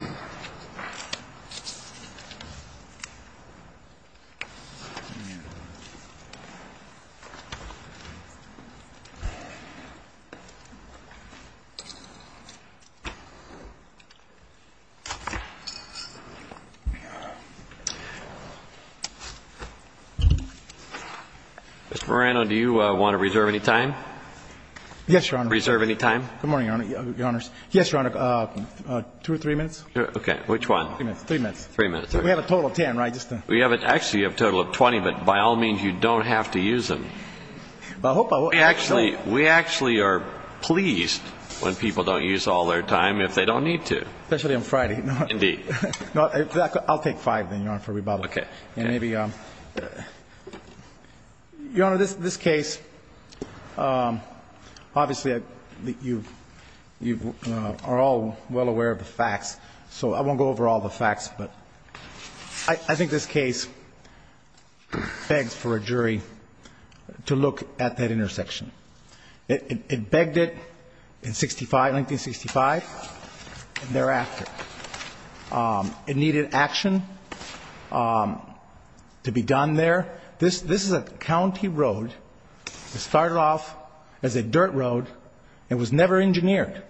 Mr. Moreno, do you want to reserve any time? Yes, Your Honor. Reserve any time? Good morning, Your Honor. Your Honors. Yes, Your Honor. Two or three minutes? Okay. Which one? Three minutes. Three minutes. We have a total of 10, right? Actually, you have a total of 20, but by all means, you don't have to use them. We actually are pleased when people don't use all their time if they don't need to. Especially on Friday. Indeed. I'll take five then, Your Honor, for rebuttal. Okay. And maybe, Your Honor, this case, obviously, you are all well aware of the facts. So I won't go over all the facts, but I think this case begs for a jury to look at that intersection. It begged it in 1965 and thereafter. It needed action to be done there. This is a county road. It started off as a dirt road. It was never engineered.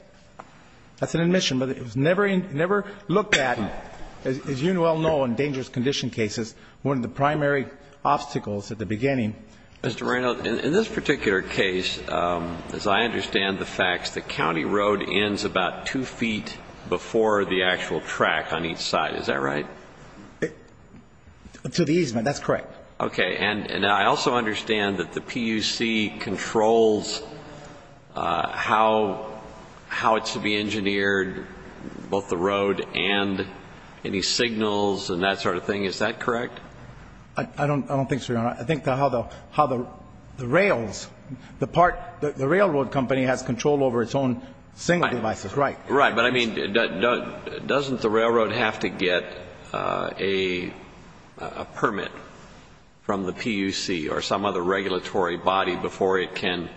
That's an admission. But it was never looked at. As you all know, in dangerous condition cases, one of the primary obstacles at the beginning. Mr. Moreno, in this particular case, as I understand the facts, the county road ends about two feet before the actual track on each side. Is that right? To the easement. That's correct. Okay. And I also understand that the PUC controls how it should be engineered, both the road and any signals and that sort of thing. Is that correct? I don't think so, Your Honor. I think how the rails, the railroad company has control over its own signal devices. Right. Right. But, I mean, doesn't the railroad have to get a permit from the PUC or some other regulatory body before it can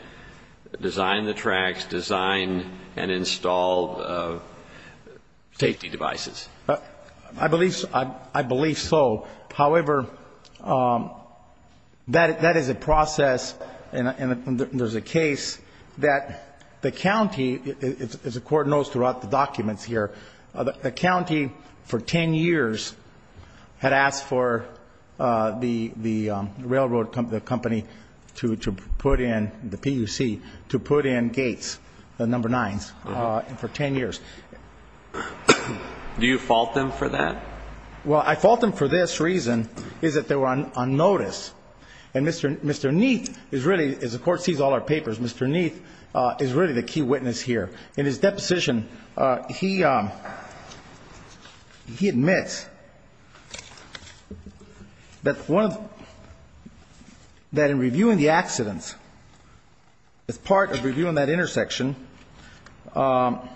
design the tracks, design and install safety devices? I believe so. However, that is a process and there's a case that the county, as the Court knows throughout the documents here, the county for 10 years had asked for the railroad company to put in, the PUC, to put in gates, the number nines, for 10 years. Do you fault them for that? Well, I fault them for this reason, is that they were on notice. And Mr. Neath is really, as the Court sees all our papers, Mr. Neath is really the key witness here. In his deposition, he admits that one of the, that in reviewing the accidents, as part of reviewing that intersection and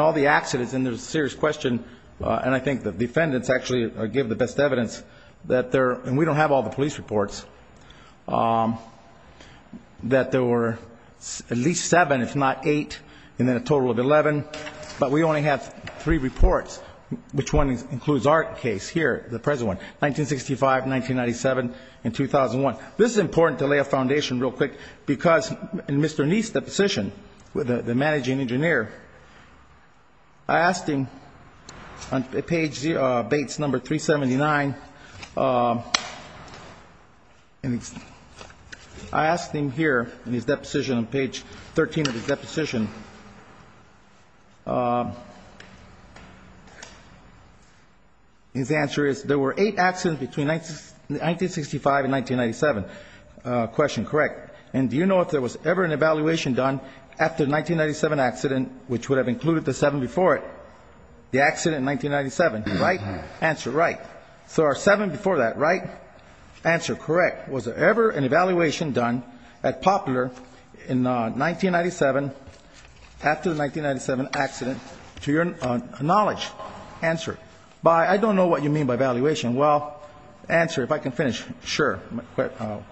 all the accidents, and there's a serious question, and I think the defendants actually give the best evidence that there, and we don't have all the police reports, that there were at least seven, if not eight, and then a total of 11. But we only have three reports, which one includes our case here, the present one, 1965, 1997, and 2001. This is important to lay a foundation real quick, because in Mr. Neath's deposition, the managing engineer, I asked him on page Bates number 379, I asked him here in his deposition, on page 13 of his deposition, his answer is, there were eight accidents between 1965 and 1997. Question, correct. And do you know if there was ever an evaluation done after the 1997 accident, which would have included the seven before it, the accident in 1997? Right? Answer, right. So our seven before that, right? Answer, correct. Was there ever an evaluation done at Poplar in 1997, after the 1997 accident, to your knowledge? Answer. By, I don't know what you mean by evaluation. Well, answer, if I can finish. Sure.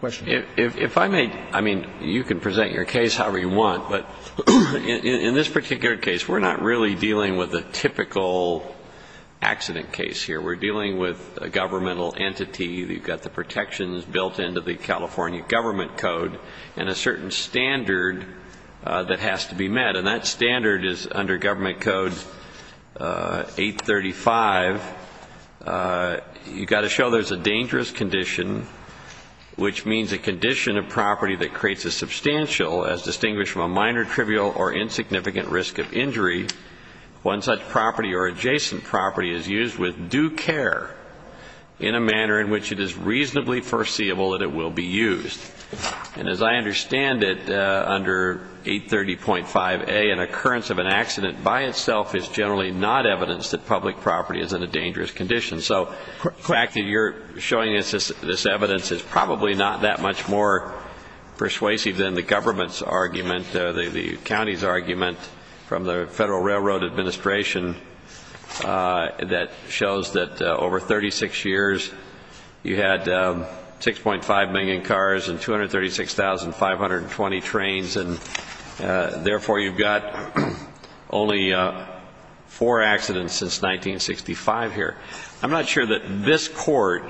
Question. If I may, I mean, you can present your case however you want, but in this particular case, we're not really dealing with a typical accident case here. We're dealing with a governmental entity. You've got the protections built into the California Government Code and a certain standard that has to be met, and that standard is under Government Code 835. You've got to show there's a dangerous condition, which means a condition of property that creates a substantial, as distinguished from a minor, trivial, or insignificant risk of injury. One such property or adjacent property is used with due care in a manner in which it is reasonably foreseeable that it will be used. And as I understand it, under 830.5a, an occurrence of an accident by itself is generally not evidence that public property is in a dangerous condition. So the fact that you're showing us this evidence is probably not that much more persuasive than the government's argument, the county's argument from the Federal Railroad Administration that shows that over 36 years, you had 6.5 million cars and 236,520 trains, and therefore you've got only four accidents since 1965 here. I'm not sure that this court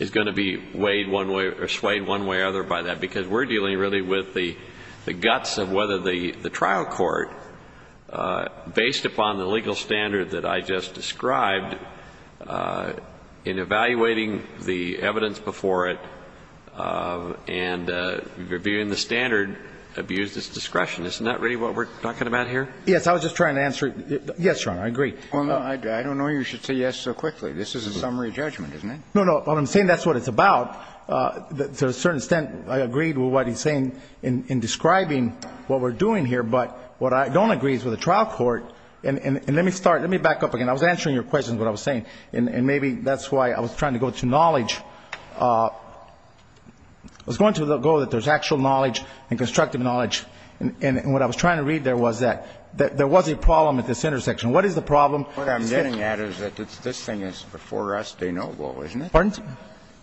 is going to be swayed one way or the other by that, because we're dealing really with the guts of whether the trial court, based upon the legal standard that I just described, in evaluating the evidence before it and reviewing the standard, abused its discretion. Isn't that really what we're talking about here? Yes. I was just trying to answer. Yes, Your Honor, I agree. Well, I don't know you should say yes so quickly. This is a summary judgment, isn't it? No, no. Well, I'm saying that's what it's about. To a certain extent, I agreed with what he's saying in describing what we're doing here. But what I don't agree is with the trial court. And let me start. Let me back up again. I was answering your questions, what I was saying. And maybe that's why I was trying to go to knowledge. I was going to go that there's actual knowledge and constructive knowledge. And what I was trying to read there was that there was a problem at this intersection. What is the problem? What I'm getting at is that this thing is before us de novo, isn't it? Pardon?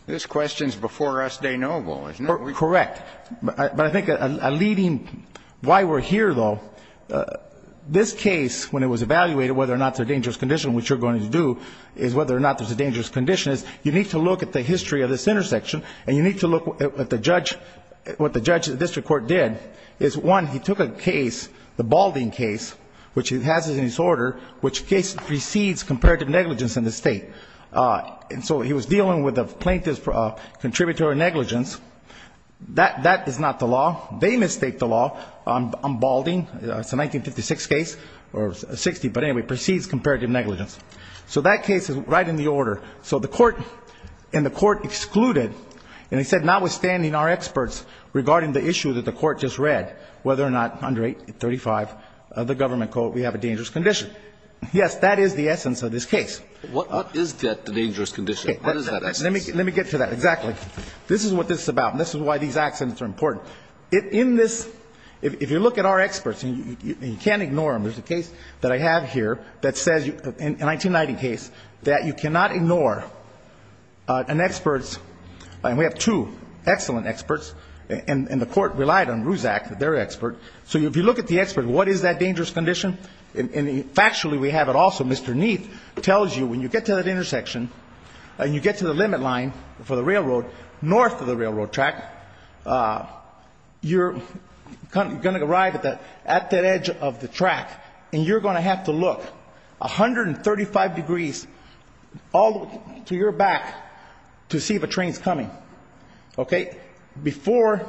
This question is before us de novo, isn't it? Correct. But I think a leading why we're here, though, this case, when it was evaluated, whether or not there's a dangerous condition, which you're going to do, is whether or not there's a dangerous condition. You need to look at the history of this intersection, and you need to look at what the judge at the district court did. One, he took a case, the Balding case, which he has in his order, which precedes comparative negligence in the State. And so he was dealing with plaintiff's contributory negligence. That is not the law. They mistake the law on Balding. It's a 1956 case, or 60, but anyway, precedes comparative negligence. So that case is right in the order. So the court and the court excluded, and they said, notwithstanding our experts regarding the issue that the court just read, whether or not under 835 of the government code we have a dangerous condition. Yes, that is the essence of this case. What is that dangerous condition? What is that essence? Let me get to that. Exactly. This is what this is about, and this is why these accidents are important. In this, if you look at our experts, and you can't ignore them, there's a case that I have here that says, a 1990 case, that you cannot ignore an expert's, and we have two excellent experts, and the court relied on Ruzak, their expert. So if you look at the expert, what is that dangerous condition? And factually, we have it also. Mr. Neath tells you when you get to that intersection, and you get to the limit line for the railroad north of the railroad track, you're going to arrive at that edge of the track, and you're going to have to look 135 degrees all the way to your back to see if a train is coming. Okay? Before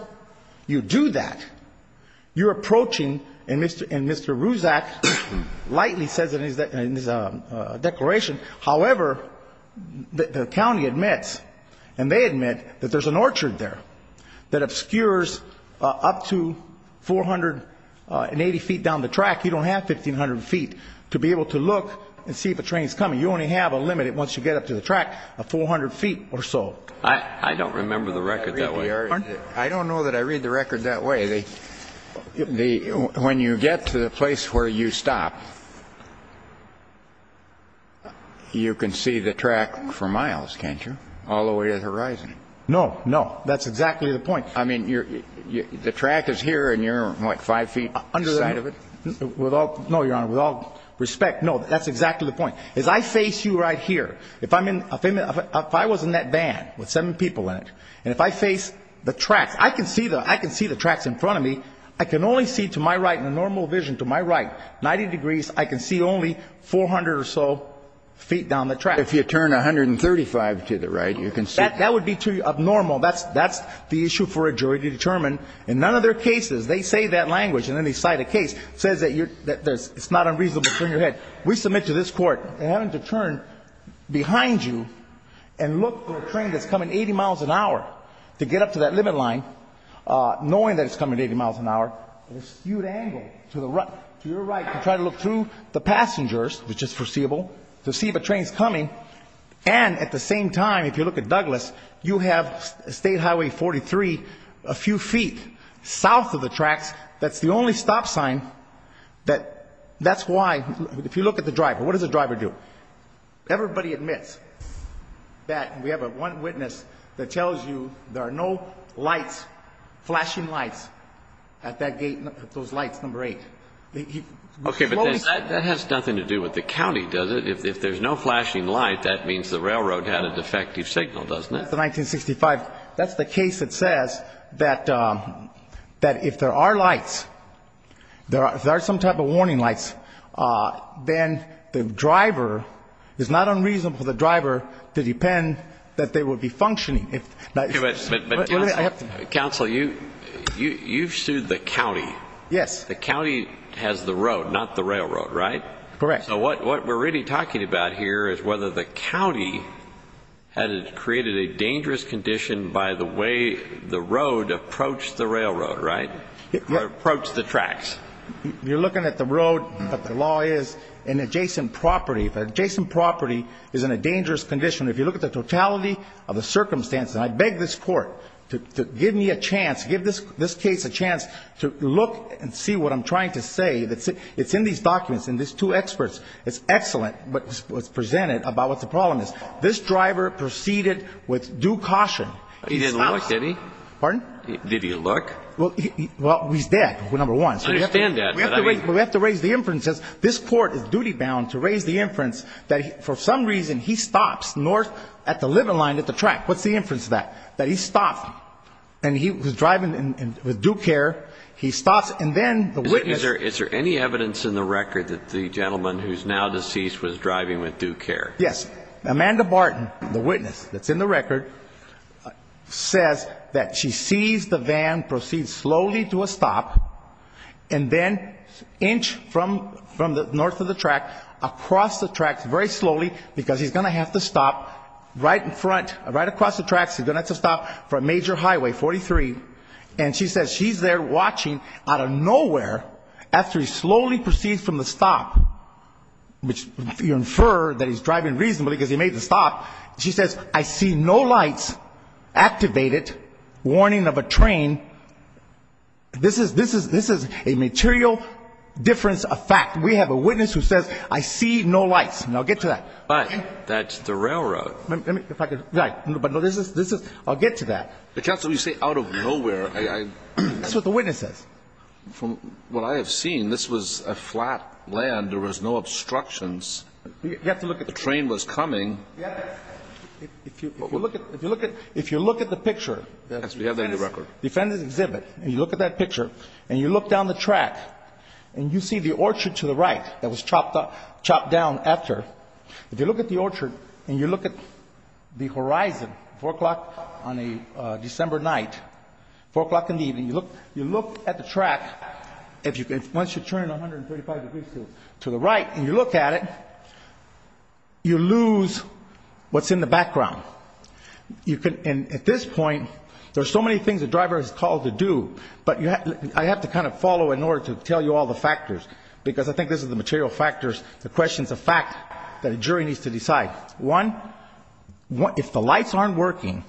you do that, you're approaching, and Mr. Ruzak lightly says in his declaration, however, the county admits, and they admit, that there's an orchard there that obscures up to 480 feet down the track. You don't have 1,500 feet to be able to look and see if a train is coming. You only have a limit once you get up to the track of 400 feet or so. I don't remember the record that way. I don't know that I read the record that way. When you get to the place where you stop, you can see the track for miles, can't you, all the way to the horizon? No, no. That's exactly the point. I mean, the track is here, and you're, what, five feet outside of it? No, Your Honor, with all respect, no, that's exactly the point. If I was in that van with seven people in it, and if I face the tracks, I can see the tracks in front of me. I can only see to my right, in a normal vision to my right, 90 degrees. I can see only 400 or so feet down the track. If you turn 135 to the right, you can see. That would be too abnormal. That's the issue for a jury to determine. In none of their cases, they say that language, and then they cite a case that says it's not unreasonable to turn your head. We submit to this Court, and having to turn behind you and look for a train that's coming 80 miles an hour to get up to that limit line, knowing that it's coming 80 miles an hour, with a skewed angle to your right to try to look through the passengers, which is foreseeable, to see if a train's coming, and at the same time, if you look at Douglas, you have State Highway 43 a few feet south of the tracks. That's the only stop sign that's why, if you look at the driver, what does the driver do? Everybody admits that. We have one witness that tells you there are no flashing lights at that gate, those lights, number 8. Okay, but that has nothing to do with the county, does it? If there's no flashing light, that means the railroad had a defective signal, doesn't it? That's the case that says that if there are lights, if there are some type of warning lights, then the driver, it's not unreasonable for the driver to depend that they would be functioning. Counsel, you've sued the county. Yes. The county has the road, not the railroad, right? Correct. So what we're really talking about here is whether the county had created a dangerous condition by the way the road approached the railroad, right? Approached the tracks. You're looking at the road, but the law is an adjacent property. If an adjacent property is in a dangerous condition, if you look at the totality of the circumstances, and I beg this Court to give me a chance, give this case a chance to look and see what I'm trying to say. It's in these documents, in these two experts. It's excellent what's presented about what the problem is. This driver proceeded with due caution. He didn't look, did he? Pardon? Did he look? Well, he's dead, number one. I understand that. We have to raise the inferences. This Court is duty-bound to raise the inference that for some reason he stops north at the living line at the track. What's the inference of that? That he stopped and he was driving with due care. He stops and then the witness – Is there any evidence in the record that the gentleman who's now deceased was driving with due care? Yes. Amanda Barton, the witness that's in the record, says that she sees the van proceed slowly to a stop and then inch from the north of the track across the tracks very slowly, because he's going to have to stop right in front, right across the tracks. He's going to have to stop for a major highway, 43. And she says she's there watching out of nowhere after he slowly proceeds from the stop, which you infer that he's driving reasonably because he made the stop. She says, I see no lights activated, warning of a train. This is a material difference of fact. We have a witness who says, I see no lights. Now, get to that. But that's the railroad. Let me, if I could. Right. But this is, I'll get to that. Counsel, when you say out of nowhere, I – That's what the witness says. From what I have seen, this was a flat land. There was no obstructions. You have to look at – The train was coming. Yes. If you look at the picture – Yes, we have that in the record. Defendant's exhibit, and you look at that picture, and you look down the track, and you see the orchard to the right that was chopped down after. If you look at the orchard and you look at the horizon, 4 o'clock on a December night, 4 o'clock in the evening, you look at the track. Once you turn 135 degrees to the right and you look at it, you lose what's in the background. And at this point, there are so many things the driver is called to do, but I have to kind of follow in order to tell you all the factors because I think this is the material factors, the questions of fact that a jury needs to decide. One, if the lights aren't working,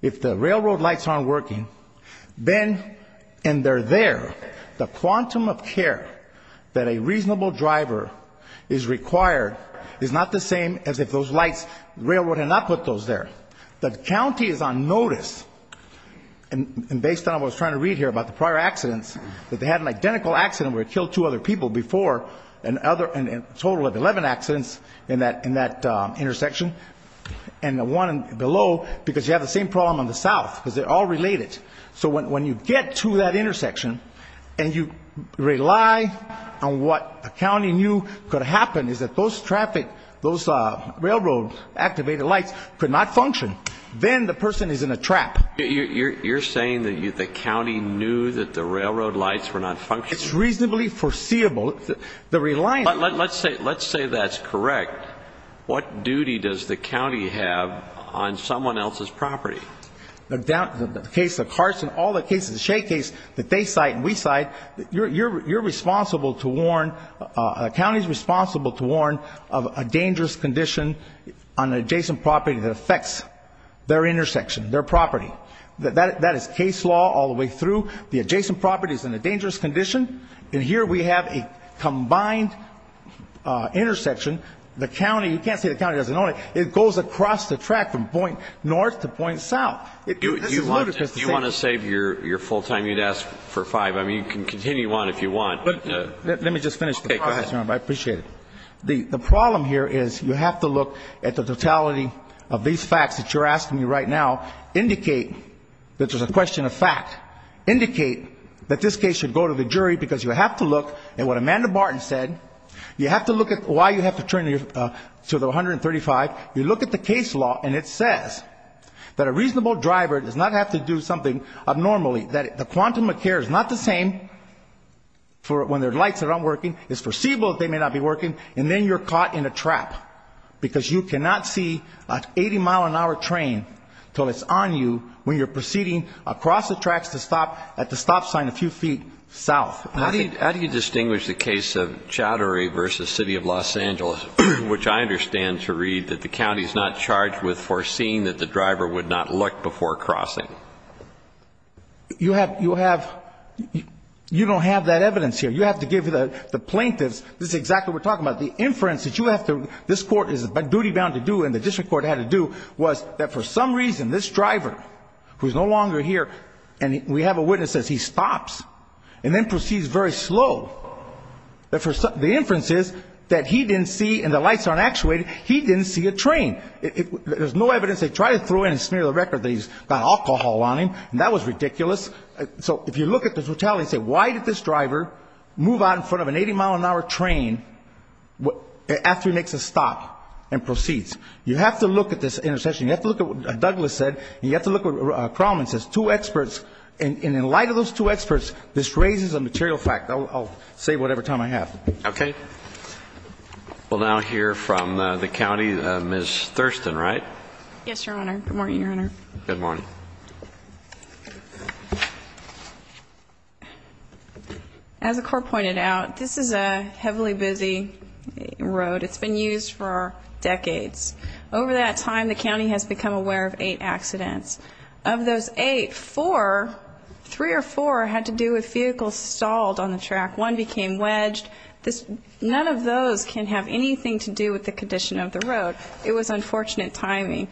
if the railroad lights aren't working, then – and they're there, the quantum of care that a reasonable driver is required is not the same as if those lights – the railroad had not put those there. The county is on notice, and based on what I was trying to read here about the prior accidents, that they had an identical accident where it killed two other people before and a total of 11 accidents in that intersection. And the one below, because you have the same problem on the south, because they're all related. So when you get to that intersection and you rely on what the county knew could happen, is that those traffic, those railroad activated lights could not function. Then the person is in a trap. You're saying that the county knew that the railroad lights were not functioning? It's reasonably foreseeable. Let's say that's correct. What duty does the county have on someone else's property? The case of Carson, all the cases, the Shea case that they cite and we cite, you're responsible to warn, the county is responsible to warn of a dangerous condition on an adjacent property that affects their intersection, their property. That is case law all the way through. The adjacent property is in a dangerous condition, and here we have a combined intersection. You can't say the county doesn't know it. It goes across the track from point north to point south. This is ludicrous. If you want to save your full time, you'd ask for five. I mean, you can continue on if you want. Let me just finish. Go ahead. I appreciate it. The problem here is you have to look at the totality of these facts that you're asking me right now, indicate that there's a question of fact, indicate that this case should go to the jury, because you have to look at what Amanda Martin said. You have to look at why you have to turn to the 135. You look at the case law, and it says that a reasonable driver does not have to do something abnormally, that the quantum of care is not the same when their lights are not working. It's foreseeable that they may not be working, and then you're caught in a trap, because you cannot see an 80-mile-an-hour train until it's on you when you're proceeding across the tracks at the stop sign a few feet south. How do you distinguish the case of Chowdhury v. City of Los Angeles, which I understand to read that the county is not charged with foreseeing that the driver would not look before crossing? You don't have that evidence here. You have to give the plaintiffs, this is exactly what we're talking about, the inference that you have to, this court is duty-bound to do and the district court had to do, was that for some reason this driver, who is no longer here, and we have a witness that says he stops and then proceeds very slow. The inference is that he didn't see, and the lights aren't actuated, he didn't see a train. There's no evidence. They tried to throw in and smear the record that he's got alcohol on him, and that was ridiculous. So if you look at the totality and say, why did this driver move out in front of an 80-mile-an-hour train after he makes a stop and proceeds? You have to look at this intercession. You have to look at what Douglas said, and you have to look at what Crowman says. Two experts, and in light of those two experts, this raises a material fact. I'll say whatever time I have. Okay. We'll now hear from the county. Ms. Thurston, right? Yes, Your Honor. Good morning, Your Honor. Good morning. As the court pointed out, this is a heavily busy road. It's been used for decades. Over that time, the county has become aware of eight accidents. Of those eight, four, three or four had to do with vehicles stalled on the track. One became wedged. None of those can have anything to do with the condition of the road. It was unfortunate timing.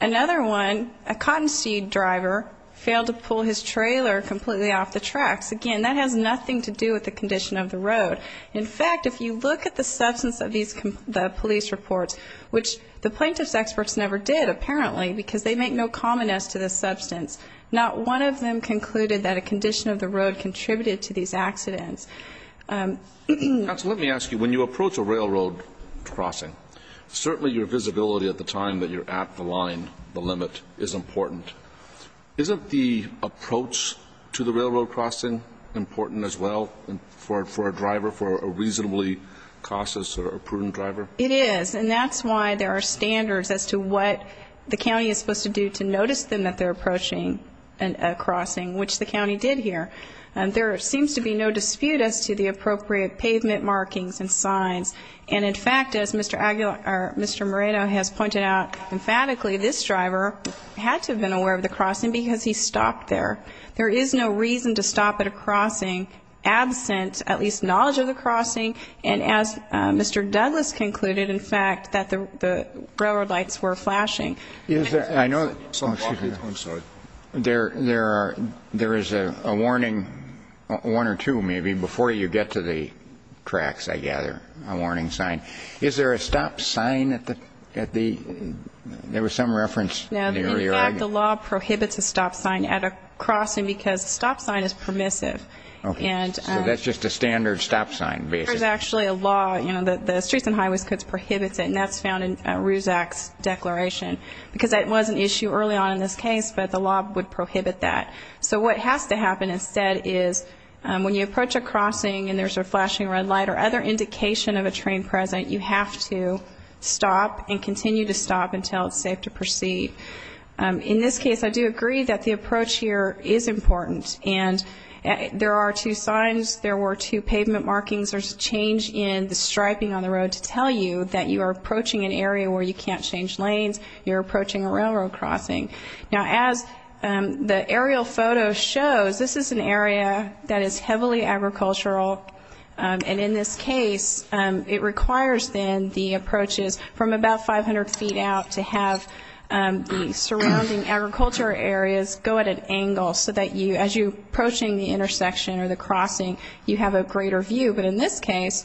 Another one, a cottonseed driver failed to pull his trailer completely off the tracks. Again, that has nothing to do with the condition of the road. In fact, if you look at the substance of these police reports, which the plaintiff's experts never did, apparently, because they make no commonness to the substance, not one of them concluded that a condition of the road contributed to these accidents. Counsel, let me ask you, when you approach a railroad crossing, certainly your visibility at the time that you're at the line, the limit, is important. Isn't the approach to the railroad crossing important as well for a driver, for a reasonably cautious or prudent driver? It is. And that's why there are standards as to what the county is supposed to do to notice them that they're approaching a crossing, which the county did here. There seems to be no dispute as to the appropriate pavement markings and signs. And, in fact, as Mr. Moreto has pointed out emphatically, this driver had to have been aware of the crossing because he stopped there. There is no reason to stop at a crossing absent at least knowledge of the crossing and as Mr. Douglas concluded, in fact, that the railroad lights were flashing. I know that there is a warning, one or two maybe, before you get to the tracks, I gather. A warning sign. Is there a stop sign at the ‑‑ there was some reference. No. In fact, the law prohibits a stop sign at a crossing because a stop sign is permissive. Okay. So that's just a standard stop sign, basically. There's actually a law, you know, the Streets and Highways Code prohibits it, and that's found in RUSAC's declaration because that was an issue early on in this case, but the law would prohibit that. So what has to happen instead is when you approach a crossing and there's a flashing red light or other indication of a train present, you have to stop and continue to stop until it's safe to proceed. In this case, I do agree that the approach here is important. And there are two signs, there were two pavement markings, there's a change in the striping on the road to tell you that you are approaching an area where you can't change lanes, you're approaching a railroad crossing. Now, as the aerial photo shows, this is an area that is heavily agricultural, and in this case it requires, then, the approaches from about 500 feet out to have the surrounding agriculture areas go at an angle so that you, as you're approaching the intersection or the crossing, you have a greater view. But in this case,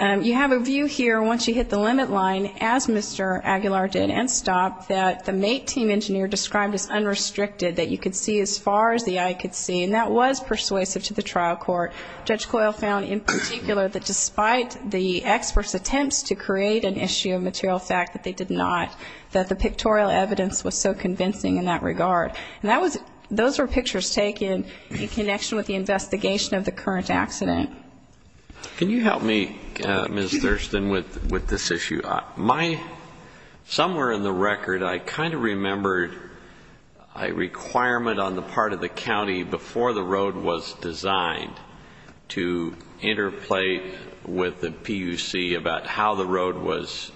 you have a view here once you hit the limit line, as Mr. Aguilar did, and stop, that the mate team engineer described as unrestricted, that you could see as far as the eye could see, and that was persuasive to the trial court. Judge Coyle found in particular that despite the expert's attempts to create an issue of material fact that they did not, that the pictorial evidence was so convincing in that regard. And that was, those were pictures taken in connection with the investigation of the current accident. Can you help me, Ms. Thurston, with this issue? Somewhere in the record, I kind of remembered a requirement on the part of the county before the road was designed to interplay with the PUC about how the road was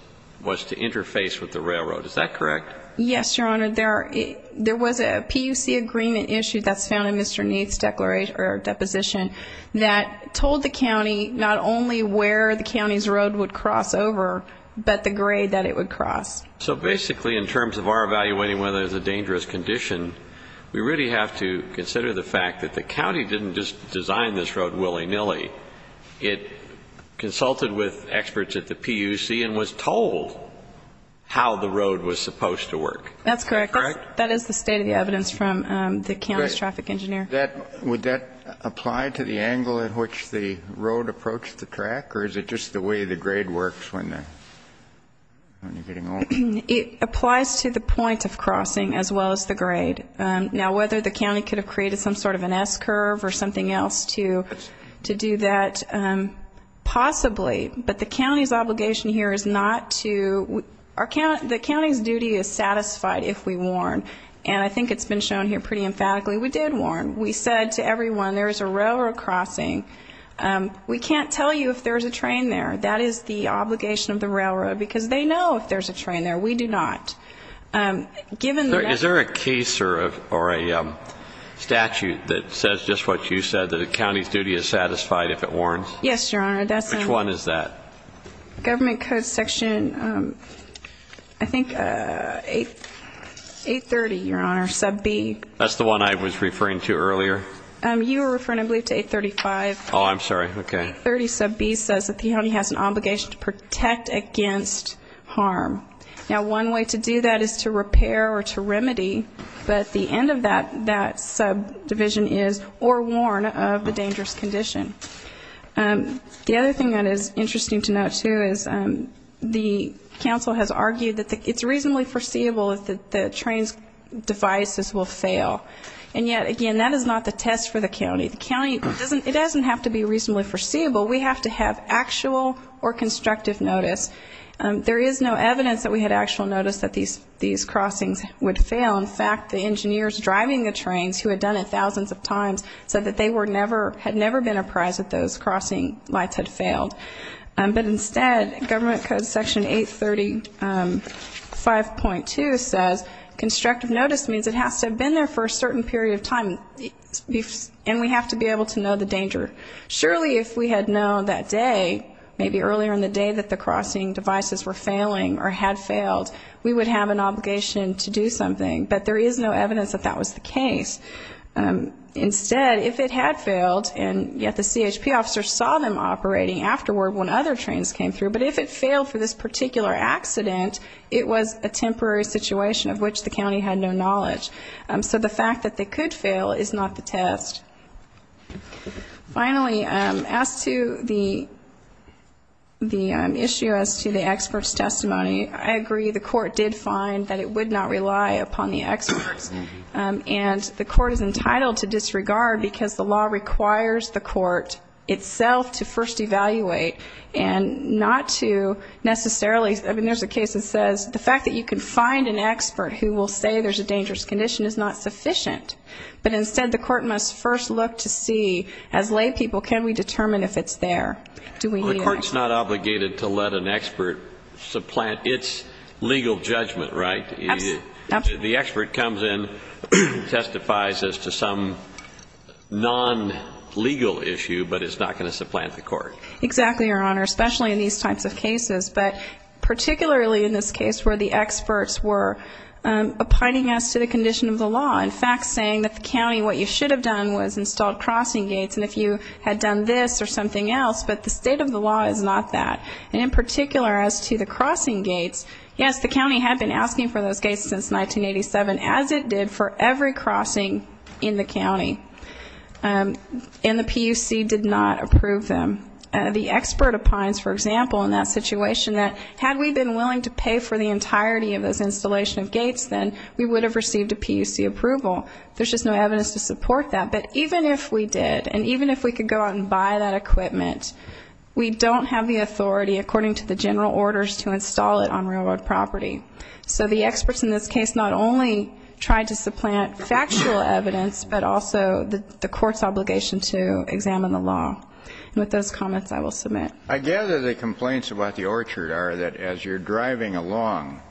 to interface with the railroad. Is that correct? Yes, Your Honor. There was a PUC agreement issue that's found in Mr. Neath's deposition that told the county not only where the county's road would cross over, but the grade that it would cross. So basically, in terms of our evaluating whether there's a dangerous condition, we really have to consider the fact that the county didn't just design this road willy-nilly. It consulted with experts at the PUC and was told how the road was supposed to work. That's correct. That is the state of the evidence from the county's traffic engineer. Would that apply to the angle at which the road approached the track, or is it just the way the grade works when you're getting off? It applies to the point of crossing as well as the grade. Now, whether the county could have created some sort of an S-curve or something else to do that, possibly. But the county's obligation here is not to, the county's duty is satisfied if we warn. And I think it's been shown here pretty emphatically. We did warn. We said to everyone, there is a railroad crossing. We can't tell you if there's a train there. That is the obligation of the railroad, because they know if there's a train there. We do not. Is there a case or a statute that says just what you said, that the county's duty is satisfied if it warns? Yes, Your Honor. Which one is that? Government Code Section, I think, 830, Your Honor, sub B. That's the one I was referring to earlier? You were referring, I believe, to 835. Oh, I'm sorry. Okay. 830 sub B says that the county has an obligation to protect against harm. Now, one way to do that is to repair or to remedy, but the end of that subdivision is or warn of the dangerous condition. The other thing that is interesting to note, too, is the council has argued that it's reasonably foreseeable that the train's devices will fail. And yet, again, that is not the test for the county. The county doesn't, it doesn't have to be reasonably foreseeable. We have to have actual or constructive notice. There is no evidence that we had actual notice that these crossings would fail. In fact, the engineers driving the trains, who had done it thousands of times, said that they were never, had never been apprised that those crossing lights had failed. But instead, Government Code Section 835.2 says, constructive notice means it has to have been there for a certain period of time, and we have to be able to know the danger. Surely, if we had known that day, maybe earlier in the day that the crossing devices were failing or had failed, we would have an obligation to do something. But there is no evidence that that was the case. Instead, if it had failed, and yet the CHP officer saw them operating afterward when other trains came through, but if it failed for this particular accident, it was a temporary situation of which the county had no knowledge. So the fact that they could fail is not the test. Finally, as to the issue as to the experts' testimony, I agree. The court did find that it would not rely upon the experts. And the court is entitled to disregard because the law requires the court itself to first evaluate and not to necessarily, I mean, there's a case that says the fact that you can find an expert who will say there's a dangerous condition is not sufficient. But instead, the court must first look to see, as laypeople, can we determine if it's there? Do we need it? Well, the court's not obligated to let an expert supplant its legal judgment, right? Absolutely. The expert comes in, testifies as to some non-legal issue, but it's not going to supplant the court. Exactly, Your Honor, especially in these types of cases. But particularly in this case where the experts were opining as to the condition of the law, in fact saying that the county, what you should have done was installed crossing gates, and if you had done this or something else, but the state of the law is not that. And in particular as to the crossing gates, yes, the county had been asking for those gates since 1987, as it did for every crossing in the county. And the PUC did not approve them. The expert opines, for example, in that situation that had we been willing to pay for the entirety of those installation of gates, then we would have received a PUC approval. There's just no evidence to support that. But even if we did, and even if we could go out and buy that equipment, we don't have the authority according to the general orders to install it on railroad property. So the experts in this case not only tried to supplant factual evidence, but also the court's obligation to examine the law. And with those comments, I will submit. I gather the complaints about the orchard are that as you're driving along,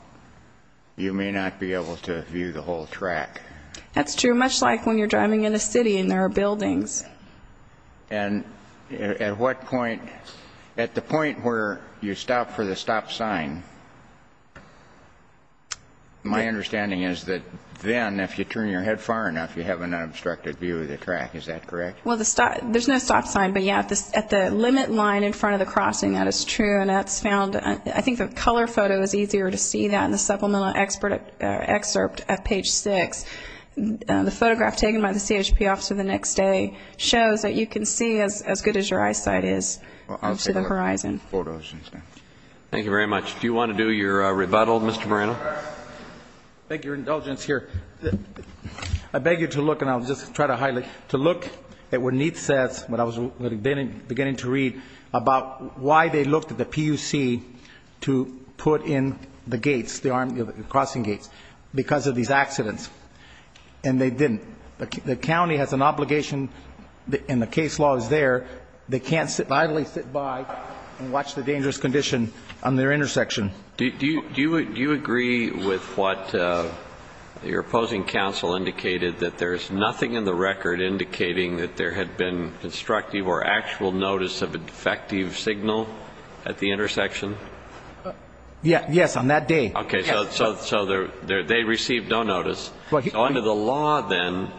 you may not be able to view the whole track. That's true, much like when you're driving in the city and there are buildings. And at what point, at the point where you stop for the stop sign, my understanding is that then if you turn your head far enough, you have an unobstructed view of the track. Is that correct? Well, there's no stop sign. But, yeah, at the limit line in front of the crossing, that is true. I think the color photo is easier to see than the supplemental excerpt at page six. The photograph taken by the CHP officer the next day shows that you can see as good as your eyesight is up to the horizon. Thank you very much. Do you want to do your rebuttal, Mr. Moreno? I beg your indulgence here. I beg you to look, and I'll just try to highlight, to look at what Neith says, what I was beginning to read about why they looked at the PUC to put in the gates, the crossing gates, because of these accidents, and they didn't. The county has an obligation, and the case law is there. They can't idly sit by and watch the dangerous condition on their intersection. Do you agree with what your opposing counsel indicated, that there is nothing in the record indicating that there had been constructive or actual notice of a defective signal at the intersection? Yes, on that day. Okay, so they received no notice. Under the law, then,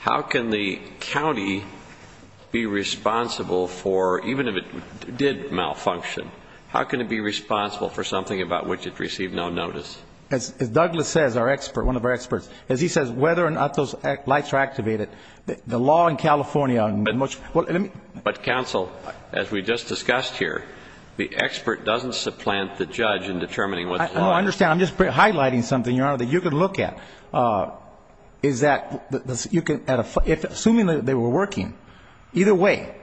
how can the county be responsible for, even if it did malfunction, how can it be responsible for something about which it received no notice? As Douglas says, our expert, one of our experts, as he says, whether or not those lights are activated, the law in California on much of it. But, counsel, as we just discussed here, the expert doesn't supplant the judge in determining what's wrong. No, I understand. I'm just highlighting something, Your Honor, that you can look at, is that you can, assuming they were working, either way,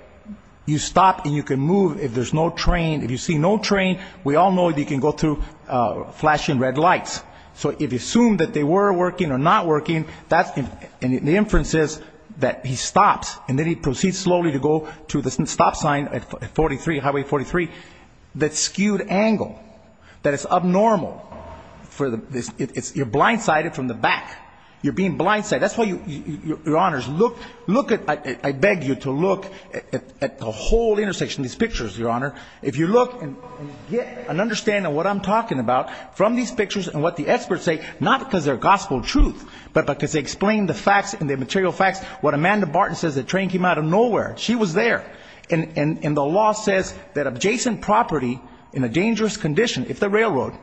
you stop and you can move if there's no train. If you see no train, we all know that you can go through flashing red lights. So if you assume that they were working or not working, and the inference is that he stops and then he proceeds slowly to go to the stop sign at 43, Highway 43, that skewed angle, that it's abnormal, you're blindsided from the back. You're being blindsided. That's why, Your Honors, look at, I beg you to look at the whole intersection, these pictures, Your Honor. If you look and get an understanding of what I'm talking about from these pictures and what the experts say, not because they're gospel truth, but because they explain the facts and the material facts. What Amanda Barton says, the train came out of nowhere. She was there. And the law says that adjacent property in a dangerous condition, if the railroad,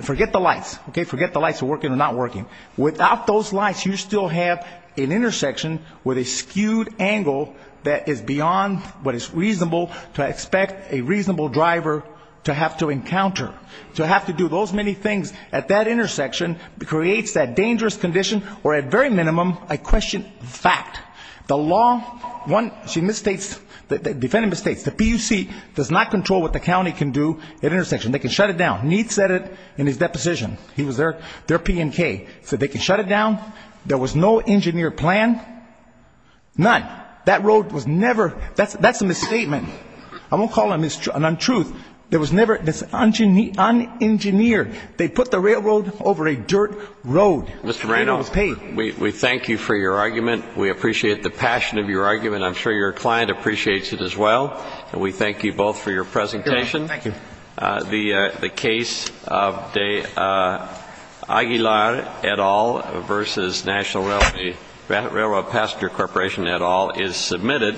forget the lights. Forget the lights are working or not working. Without those lights, you still have an intersection with a skewed angle that is beyond what is reasonable to expect a reasonable driver to have to encounter, to have to do those many things at that intersection creates that dangerous condition or at very minimum, I question fact. The law, one, she misstates, the defendant misstates. The PUC does not control what the county can do at intersection. They can shut it down. Neith said it in his deposition. He was there. They're P and K. So they can shut it down. There was no engineer plan. None. That road was never, that's a misstatement. I won't call it an untruth. There was never, it's unengineered. They put the railroad over a dirt road. Mr. Marino, we thank you for your argument. We appreciate the passion of your argument. I'm sure your client appreciates it as well. And we thank you both for your presentation. Thank you. The case of Aguilar et al. versus National Railroad Passenger Corporation et al. is submitted.